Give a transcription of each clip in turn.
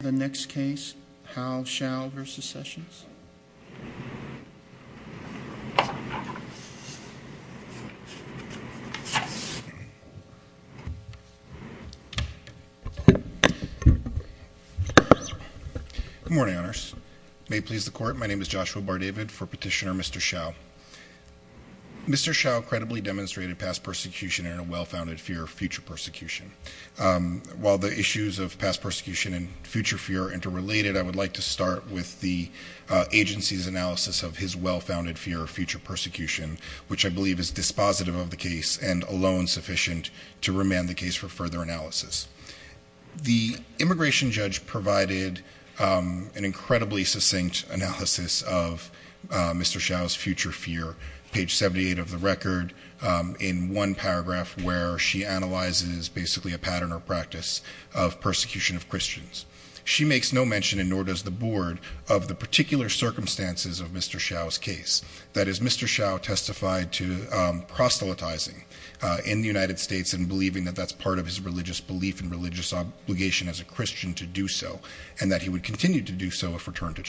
The next case, Howe-Shao v. Sessions. Good morning, honors. May it please the court, my name is Joshua Bardavid for petitioner Mr. Shao. Mr. Shao credibly demonstrated past persecution and a well-founded fear of future persecution. While the issues of past persecution and future fear are interrelated, I would like to start with the agency's analysis of his well-founded fear of future persecution, which I believe is dispositive of the case and alone sufficient to remand the case for further analysis. The immigration judge provided an incredibly succinct analysis of Mr. Shao's future fear, page 78 of the record, in one paragraph where she analyzes basically a pattern or practice of persecution of Christians. She makes no mention, and nor does the board, of the particular circumstances of Mr. Shao's case. That is, Mr. Shao testified to proselytizing in the United States and believing that that's part of his religious belief and religious obligation as a Christian to do so, and that he would continue to do so if returned to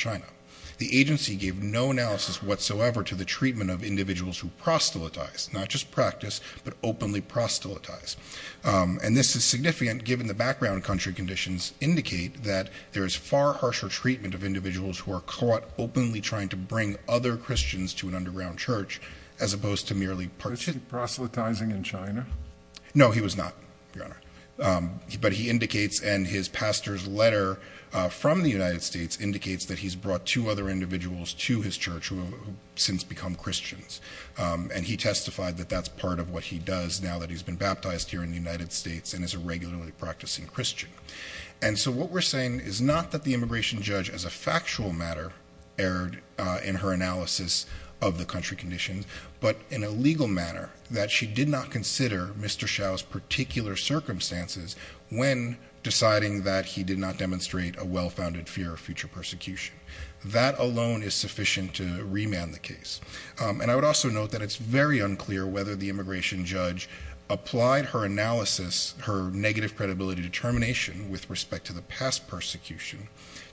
proselytize. Not just practice, but openly proselytize. And this is significant given the background country conditions indicate that there is far harsher treatment of individuals who are caught openly trying to bring other Christians to an underground church as opposed to merely proselytizing in China. No, he was not, Your Honor. But he indicates, and his pastor's letter from the United States indicates that he's brought two other individuals to his church who since become Christians. And he testified that that's part of what he does now that he's been baptized here in the United States and is a regularly practicing Christian. And so what we're saying is not that the immigration judge as a factual matter erred in her analysis of the country conditions, but in a legal manner that she did not consider Mr. Shao's particular circumstances when deciding that he did not demonstrate a well-founded fear of future persecution. That alone is sufficient to remand the case. And I would also note that it's very unclear whether the immigration judge applied her analysis, her negative credibility determination with respect to the past persecution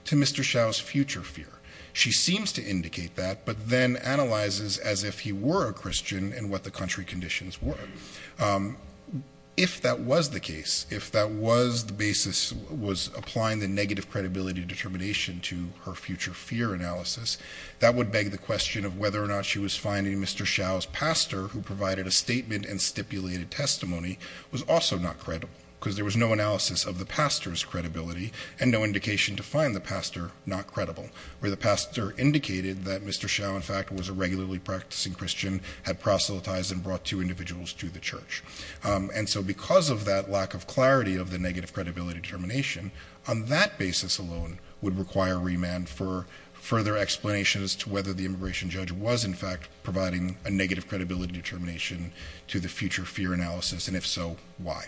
to Mr. Shao's future fear. She seems to indicate that, but then analyzes as if he were a Christian and what the country conditions were. If that was the case, if that was the basis was applying the negative credibility determination to her future fear analysis, that would beg the question of whether or not she was finding Mr. Shao's pastor who provided a statement and stipulated testimony was also not credible because there was no analysis of the pastor's credibility and no indication to find the pastor not credible. Where the pastor indicated that Mr. Shao in fact was a regularly practicing Christian, had proselytized and brought two individuals to the church. And so because of that lack of clarity of the negative credibility determination, on that basis alone would require remand for further explanation as to whether the immigration judge was in fact providing a negative credibility determination to the future fear analysis. And if so, why?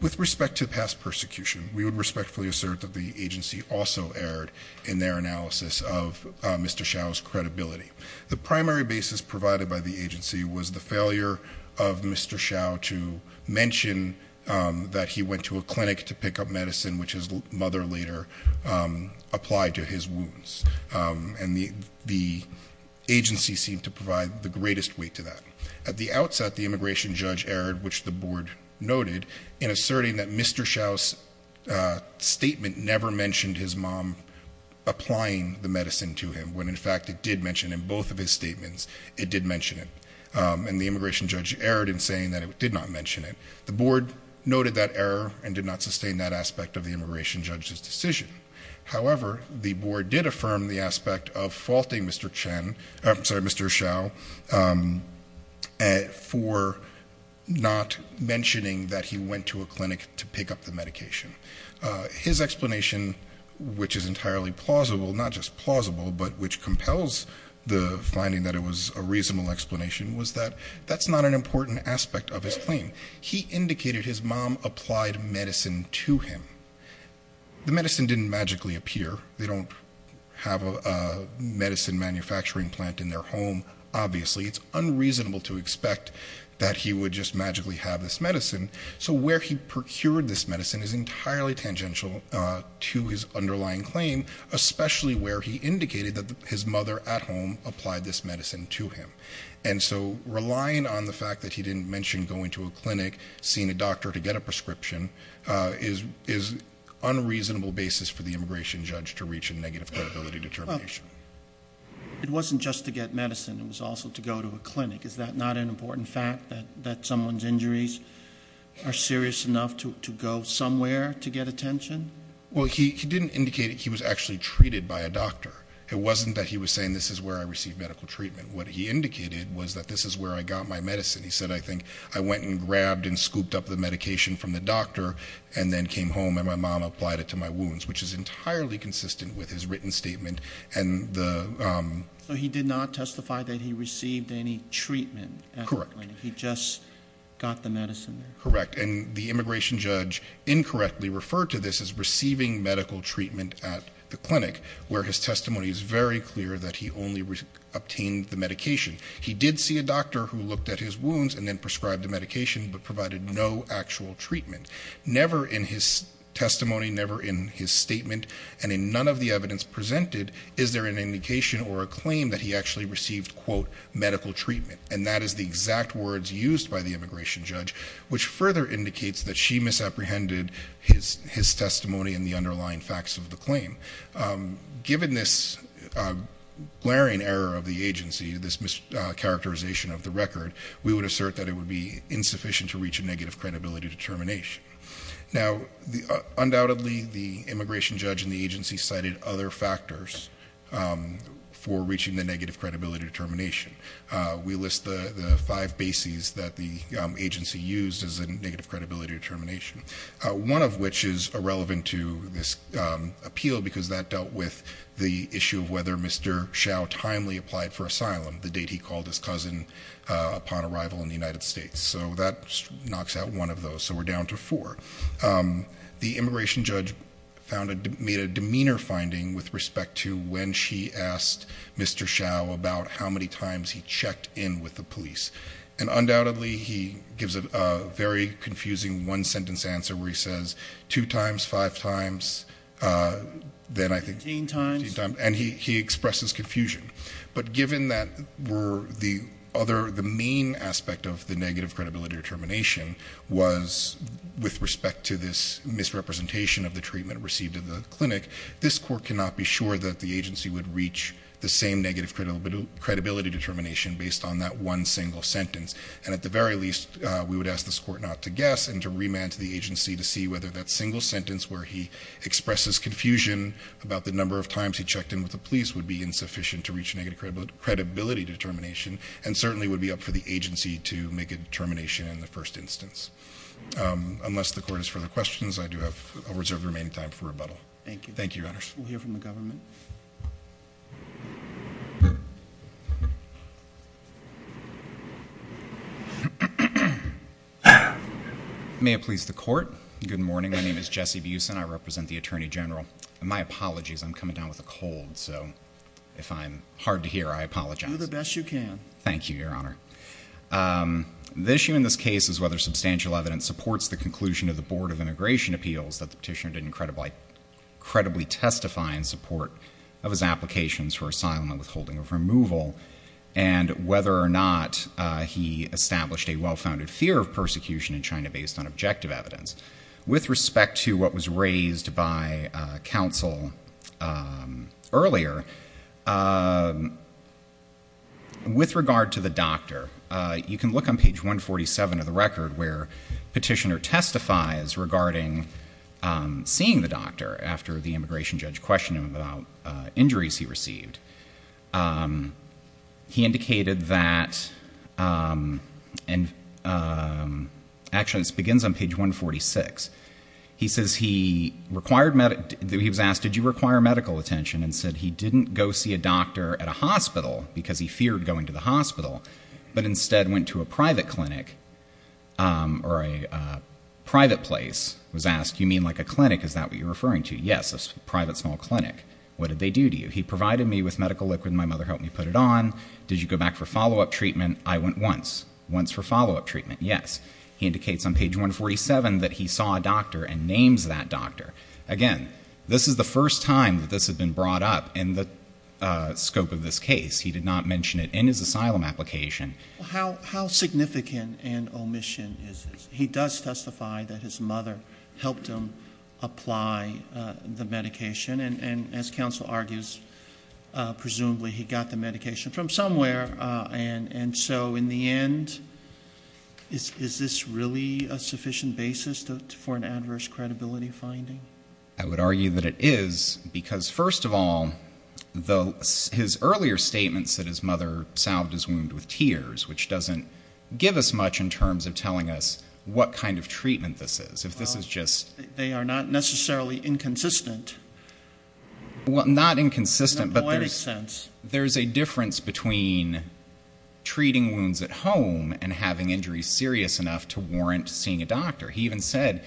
With respect to past persecution, we would respectfully assert that the agency also erred in their analysis of Mr. Shao's credibility. The primary basis provided by the agency was the failure of Mr. Shao to mention that he went to a clinic to pick up medicine, which his mother later applied to his wounds. And the agency seemed to provide the greatest weight to that. At the outset, the immigration judge erred, which the board noted, in asserting that Mr. Shao's statement never mentioned his mom applying the medicine to him. When in fact it did mention in both of his statements, it did mention it. And the immigration judge erred in saying that it did not mention it. The board noted that error and did not sustain that aspect of the immigration judge's decision. However, the board did affirm the aspect of faulting Mr. Chen, I'm sorry, Mr. Shao, for not mentioning that he went to a clinic to pick up medication. His explanation, which is entirely plausible, not just plausible, but which compels the finding that it was a reasonable explanation, was that that's not an important aspect of his claim. He indicated his mom applied medicine to him. The medicine didn't magically appear. They don't have a medicine manufacturing plant in their home, obviously. It's unreasonable to expect that he would just magically have this medicine. So where he procured this medicine is entirely tangential to his underlying claim, especially where he indicated that his mother at home applied this medicine to him. And so relying on the fact that he didn't mention going to a clinic, seeing a doctor to get a prescription, is unreasonable basis for the immigration judge to reach a negative credibility determination. It wasn't just to get medicine. It was also to a clinic. Is that not an important fact that someone's injuries are serious enough to go somewhere to get attention? Well, he didn't indicate he was actually treated by a doctor. It wasn't that he was saying this is where I received medical treatment. What he indicated was that this is where I got my medicine. He said, I think I went and grabbed and scooped up the medication from the doctor and then came home and my mom applied it to my wounds, which is treatment. He just got the medicine. Correct. And the immigration judge incorrectly referred to this as receiving medical treatment at the clinic, where his testimony is very clear that he only obtained the medication. He did see a doctor who looked at his wounds and then prescribed the medication, but provided no actual treatment. Never in his testimony, never in his statement and in none of the evidence presented. Is there an indication or a claim that he actually received medical treatment? And that is the exact words used by the immigration judge, which further indicates that she misapprehended his testimony and the underlying facts of the claim. Given this glaring error of the agency, this mischaracterization of the record, we would assert that it would be insufficient to reach a negative credibility determination. Now, undoubtedly, the immigration judge and the agency cited other factors for reaching negative credibility determination. We list the five bases that the agency used as a negative credibility determination, one of which is irrelevant to this appeal because that dealt with the issue of whether Mr. Hsiao timely applied for asylum, the date he called his cousin upon arrival in the United States. So that knocks out one of those. So we're down to four. The immigration judge made a demeanor finding with respect to when she asked Mr. Hsiao about how many times he checked in with the police. And undoubtedly, he gives a very confusing one sentence answer where he says two times, five times, then I think 15 times, and he expresses confusion. But given that the other, the main aspect of the negative credibility determination was with respect to this misrepresentation of the treatment received at the clinic, this court cannot be sure that the agency would reach the same negative credibility determination based on that one single sentence. And at the very least, we would ask this court not to guess and to remand to the agency to see whether that single sentence where he expresses confusion about the number of times he checked in with the police would be insufficient to reach negative credibility determination and certainly would be up for the agency to make a determination in the first instance. Unless the court has further questions, I do have a reserve of remaining time for rebuttal. Thank you. Thank you, Your Honor. We'll hear from the government. May it please the court. Good morning. My name is Jesse Buesen. I represent the Attorney General. My apologies. I'm coming down with a cold. So if I'm hard to hear, I apologize. Do the best you can. Thank you, Your Honor. The issue in this case is whether substantial evidence supports the conclusion of the Board of Immigration Appeals that the petitioner did incredibly testify in support of his applications for asylum and withholding of removal, and whether or not he established a well-founded fear of persecution in China based on objective with regard to the doctor. You can look on page 147 of the record where the petitioner testifies regarding seeing the doctor after the immigration judge questioned him about injuries he received. He indicated that, and actually this begins on page 146. He says he was asked, did you require medical attention, and said he didn't go see a doctor at a hospital because he feared going to the hospital, but instead went to a private clinic or a private place, was asked, you mean like a clinic? Is that what you're referring to? Yes, a private small clinic. What did they do to you? He provided me with medical liquid. My mother helped me put it on. Did you go back for follow-up treatment? I went once. Once for follow-up treatment? Yes. He indicates on page 147 that he saw a doctor and names that doctor. Again, this is the first time that this has been brought up in the scope of this case. He did not mention it in his asylum application. How significant an omission is this? He does testify that his mother helped him apply the medication, and as counsel argues, presumably he got the medication from somewhere, and so in the end, is this really a sufficient basis for an adverse credibility finding? I would argue that it is, because first of all, his earlier statements that his mother salved his wound with tears, which doesn't give us much in terms of telling us what kind of treatment this is. They are not necessarily inconsistent. Not inconsistent, but there's a difference between treating wounds at home and having injuries serious enough to warrant seeing a doctor. He even said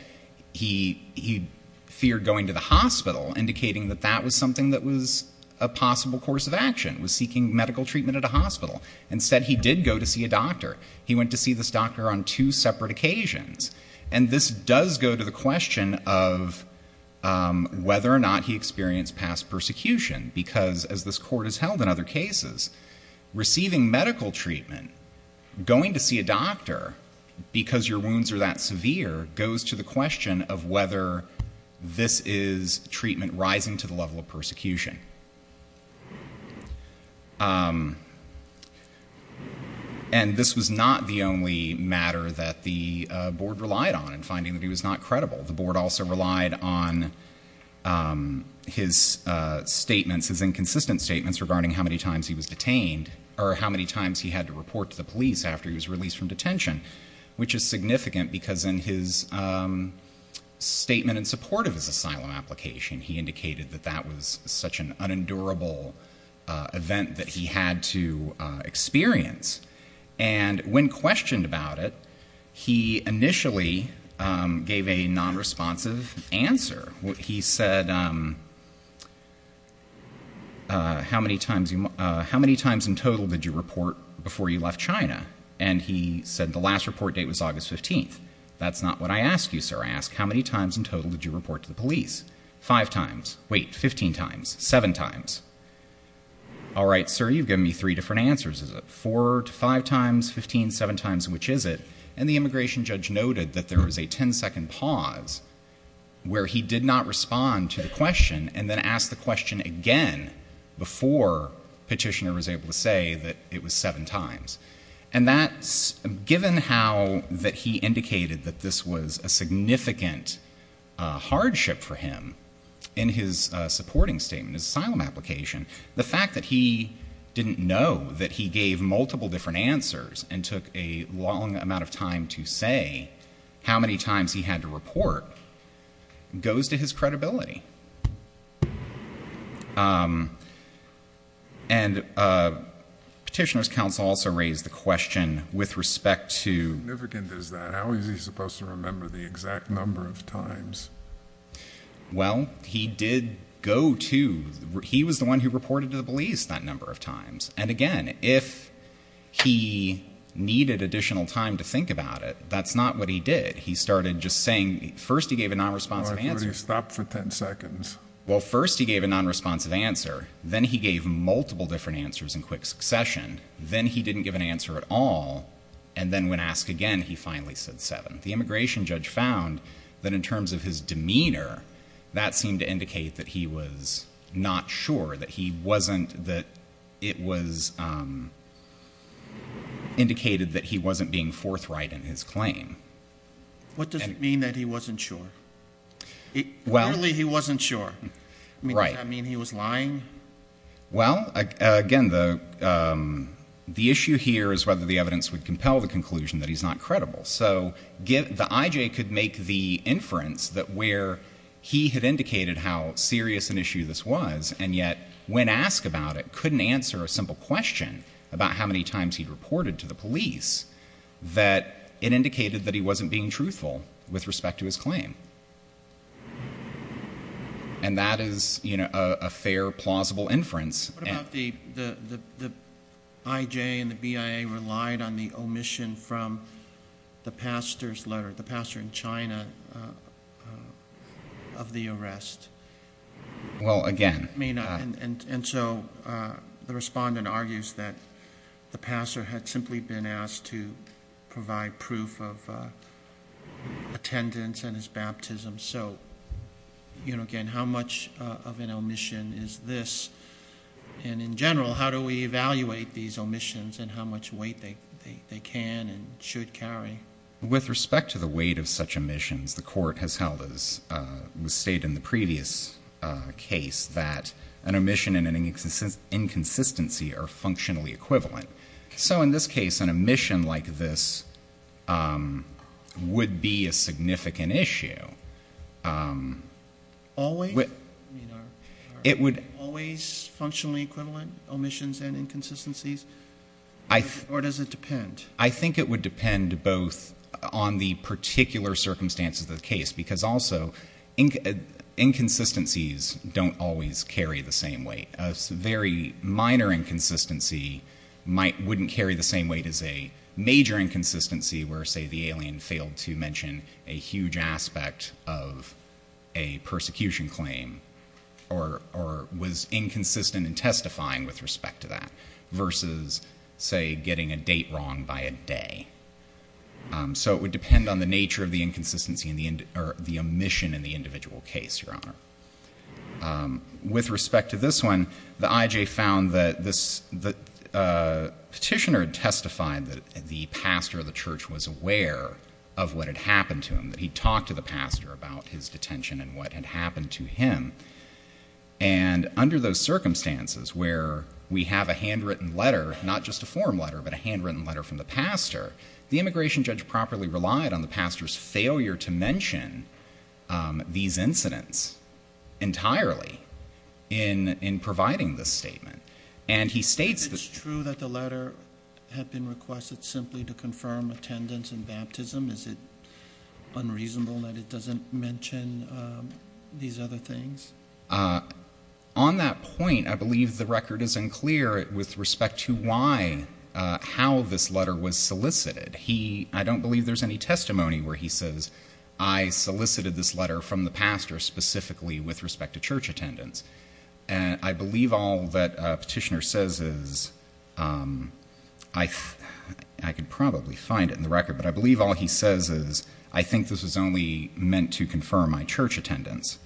he feared going to the hospital, indicating that that was something that was a possible course of action, was seeking medical treatment at a hospital. Instead, he did go to see a doctor. He went to see this doctor on two separate occasions, and this does go to the question of whether or not he experienced past because, as this court has held in other cases, receiving medical treatment, going to see a doctor because your wounds are that severe goes to the question of whether this is treatment rising to the level of persecution. And this was not the only matter that the board relied on in finding that he was not statements, his inconsistent statements regarding how many times he was detained, or how many times he had to report to the police after he was released from detention, which is significant because in his statement in support of his asylum application, he indicated that that was such an unendurable event that he had to experience. And when questioned about it, he initially gave a nonresponsive answer. He said, how many times in total did you report before you left China? And he said the last report date was August 15th. That's not what I asked you, sir. I asked how many times in total did you report to the police? Five times. Wait, 15 times. Seven times. All right, sir, you've given me three answers. Is it four to five times, 15, seven times, which is it? And the immigration judge noted that there was a 10 second pause where he did not respond to the question and then asked the question again before petitioner was able to say that it was seven times. And that's given how that he indicated that this was a significant hardship for him in his supporting statement, asylum application. The fact that he didn't know that he gave multiple different answers and took a long amount of time to say how many times he had to report goes to his credibility. And petitioner's counsel also raised the question with respect to... How significant is that? How is he supposed to remember the exact number of times? Well, he did go to... He was the one who reported to the police that number of times. And again, if he needed additional time to think about it, that's not what he did. He started just saying... First, he gave a non-responsive answer. All right, can we stop for 10 seconds? Well, first, he gave a non-responsive answer. Then he gave multiple different answers in quick succession. Then he didn't give an answer at all. And then when asked again, he finally said seven. The immigration judge found that in terms of his demeanor, that seemed to indicate that he was not sure, that he wasn't... That it was indicated that he wasn't being forthright in his claim. What does it mean that he wasn't sure? Clearly, he wasn't sure. Does that mean he was lying? Well, again, the issue here is whether the evidence would compel the conclusion that the IJ could make the inference that where he had indicated how serious an issue this was, and yet when asked about it, couldn't answer a simple question about how many times he'd reported to the police, that it indicated that he wasn't being truthful with respect to his claim. And that is a fair, plausible inference. What about the IJ and the BIA relied on the omission from the pastor's letter, the pastor in China, of the arrest? Well, again... And so the respondent argues that the pastor had simply been asked to provide proof of and in general, how do we evaluate these omissions and how much weight they can and should carry? With respect to the weight of such omissions, the court has held, as was stated in the previous case, that an omission and an inconsistency are functionally equivalent. So in this case, an omission like this would be a significant issue. Always? It would... Always functionally equivalent, omissions and inconsistencies? Or does it depend? I think it would depend both on the particular circumstances of the case, because also inconsistencies don't always carry the same weight. A very minor inconsistency wouldn't carry the same weight as a major inconsistency where, say, the alien failed to mention a huge aspect of a persecution claim or was inconsistent in testifying with respect to that versus, say, getting a date wrong by a day. So it would depend on the nature of the inconsistency or the omission in the individual case, Your Honor. With respect to this one, the IJ found that the petitioner testified that the pastor of of what had happened to him, that he talked to the pastor about his detention and what had happened to him. And under those circumstances where we have a handwritten letter, not just a form letter, but a handwritten letter from the pastor, the immigration judge properly relied on the pastor's failure to mention these incidents entirely in providing this statement. And he states that... Is it unreasonable that it doesn't mention these other things? On that point, I believe the record isn't clear with respect to why, how this letter was solicited. I don't believe there's any testimony where he says, I solicited this letter from the pastor specifically with respect to church attendance. I believe all that petitioner says is... I could probably find it in the record, but I believe all he says is, I think this was only meant to confirm my church attendance.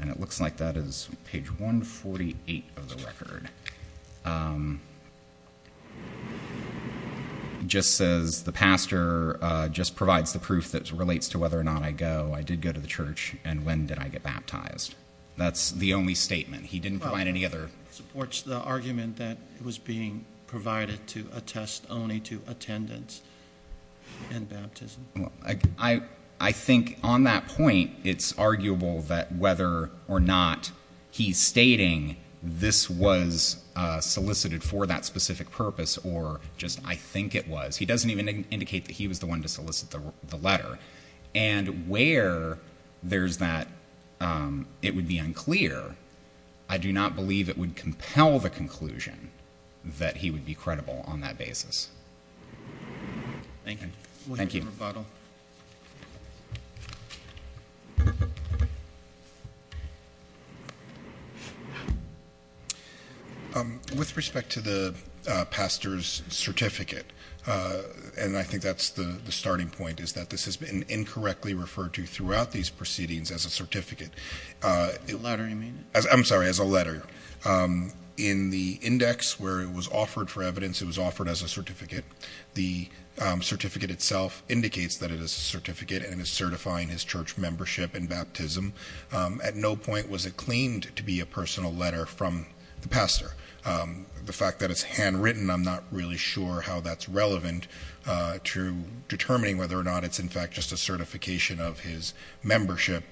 And it looks like that is page 148 of the record. Just says the pastor just provides the proof that relates to whether or not I did go to the church and when did I get baptized. That's the only statement. He didn't provide any other... Supports the argument that it was being provided to attest only to attendance and baptism. I think on that point, it's arguable that whether or not he's stating this was solicited for that specific purpose, or just, I think it was, he doesn't even indicate that he was the one to solicit the letter. And where there's that, it would be unclear. I do not believe it would compel the conclusion that he would be credible on that basis. Thank you. With respect to the pastor's certificate, and I think that's the starting point, is that this has been incorrectly referred to throughout these proceedings as a certificate. A letter, you mean? I'm sorry, as a letter. In the index where it was offered for evidence, it was offered as a certificate. The certificate itself indicates that it is a certificate and is certifying his church membership and baptism. At no point was it claimed to be a personal letter from the pastor. The fact that it's handwritten, I'm not really sure how that's relevant to determining whether or not it's, in fact, just a certification of his membership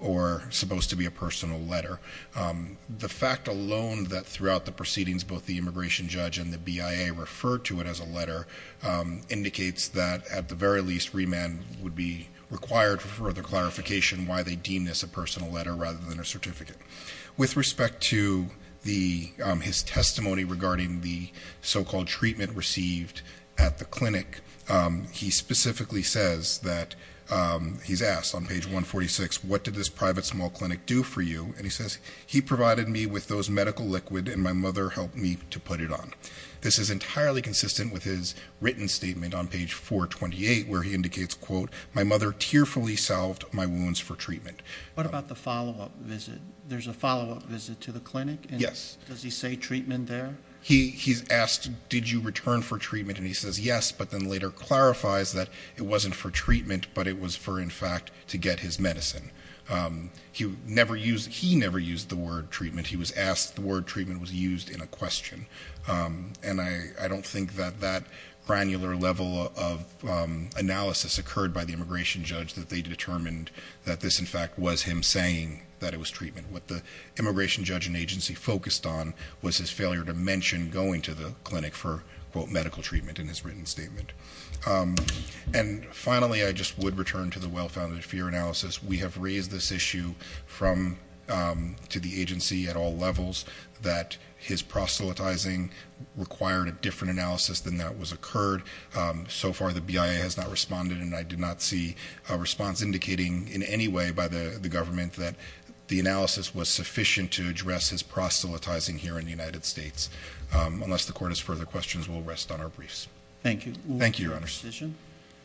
or supposed to be a personal letter. The fact alone that throughout the proceedings, both the immigration judge and the BIA referred to it as a letter indicates that, at the very least, remand would be required for further clarification why they deem this a personal letter rather than a certificate. With respect to his testimony regarding the so-called treatment received at the clinic, he specifically says that, he's asked on page 146, what did this private small clinic do for you? And he says, he provided me with those medical liquid and my mother helped me to put it on. This is entirely consistent with his written statement on page 428, where he indicates, quote, my mother tearfully salved my wounds for treatment. What about the follow-up visit? There's a follow-up visit to the clinic? Yes. Does he say treatment there? He's asked, did you return for treatment? And he says, yes, but then later clarifies that it wasn't for treatment, but it was for, in fact, to get his medicine. He never used the word treatment. He was asked, the word treatment was used in a question. And I don't think that that granular level of analysis occurred by the immigration judge that they determined that this, in fact, was him saying that it was treatment. What the immigration judge and agency focused on was his failure to mention going to the clinic for, quote, medical treatment in his written statement. And finally, I just would return to the well-founded fear analysis. We have raised this issue from, to the agency at all levels that his proselytizing required a different analysis than that was occurred. So far, the BIA has not responded and I did not see a response indicating in any way by the government that the analysis was sufficient to address his proselytizing here in the United States. Unless the court has further questions, we'll rest on our briefs. Thank you. Thank you, Your Honors.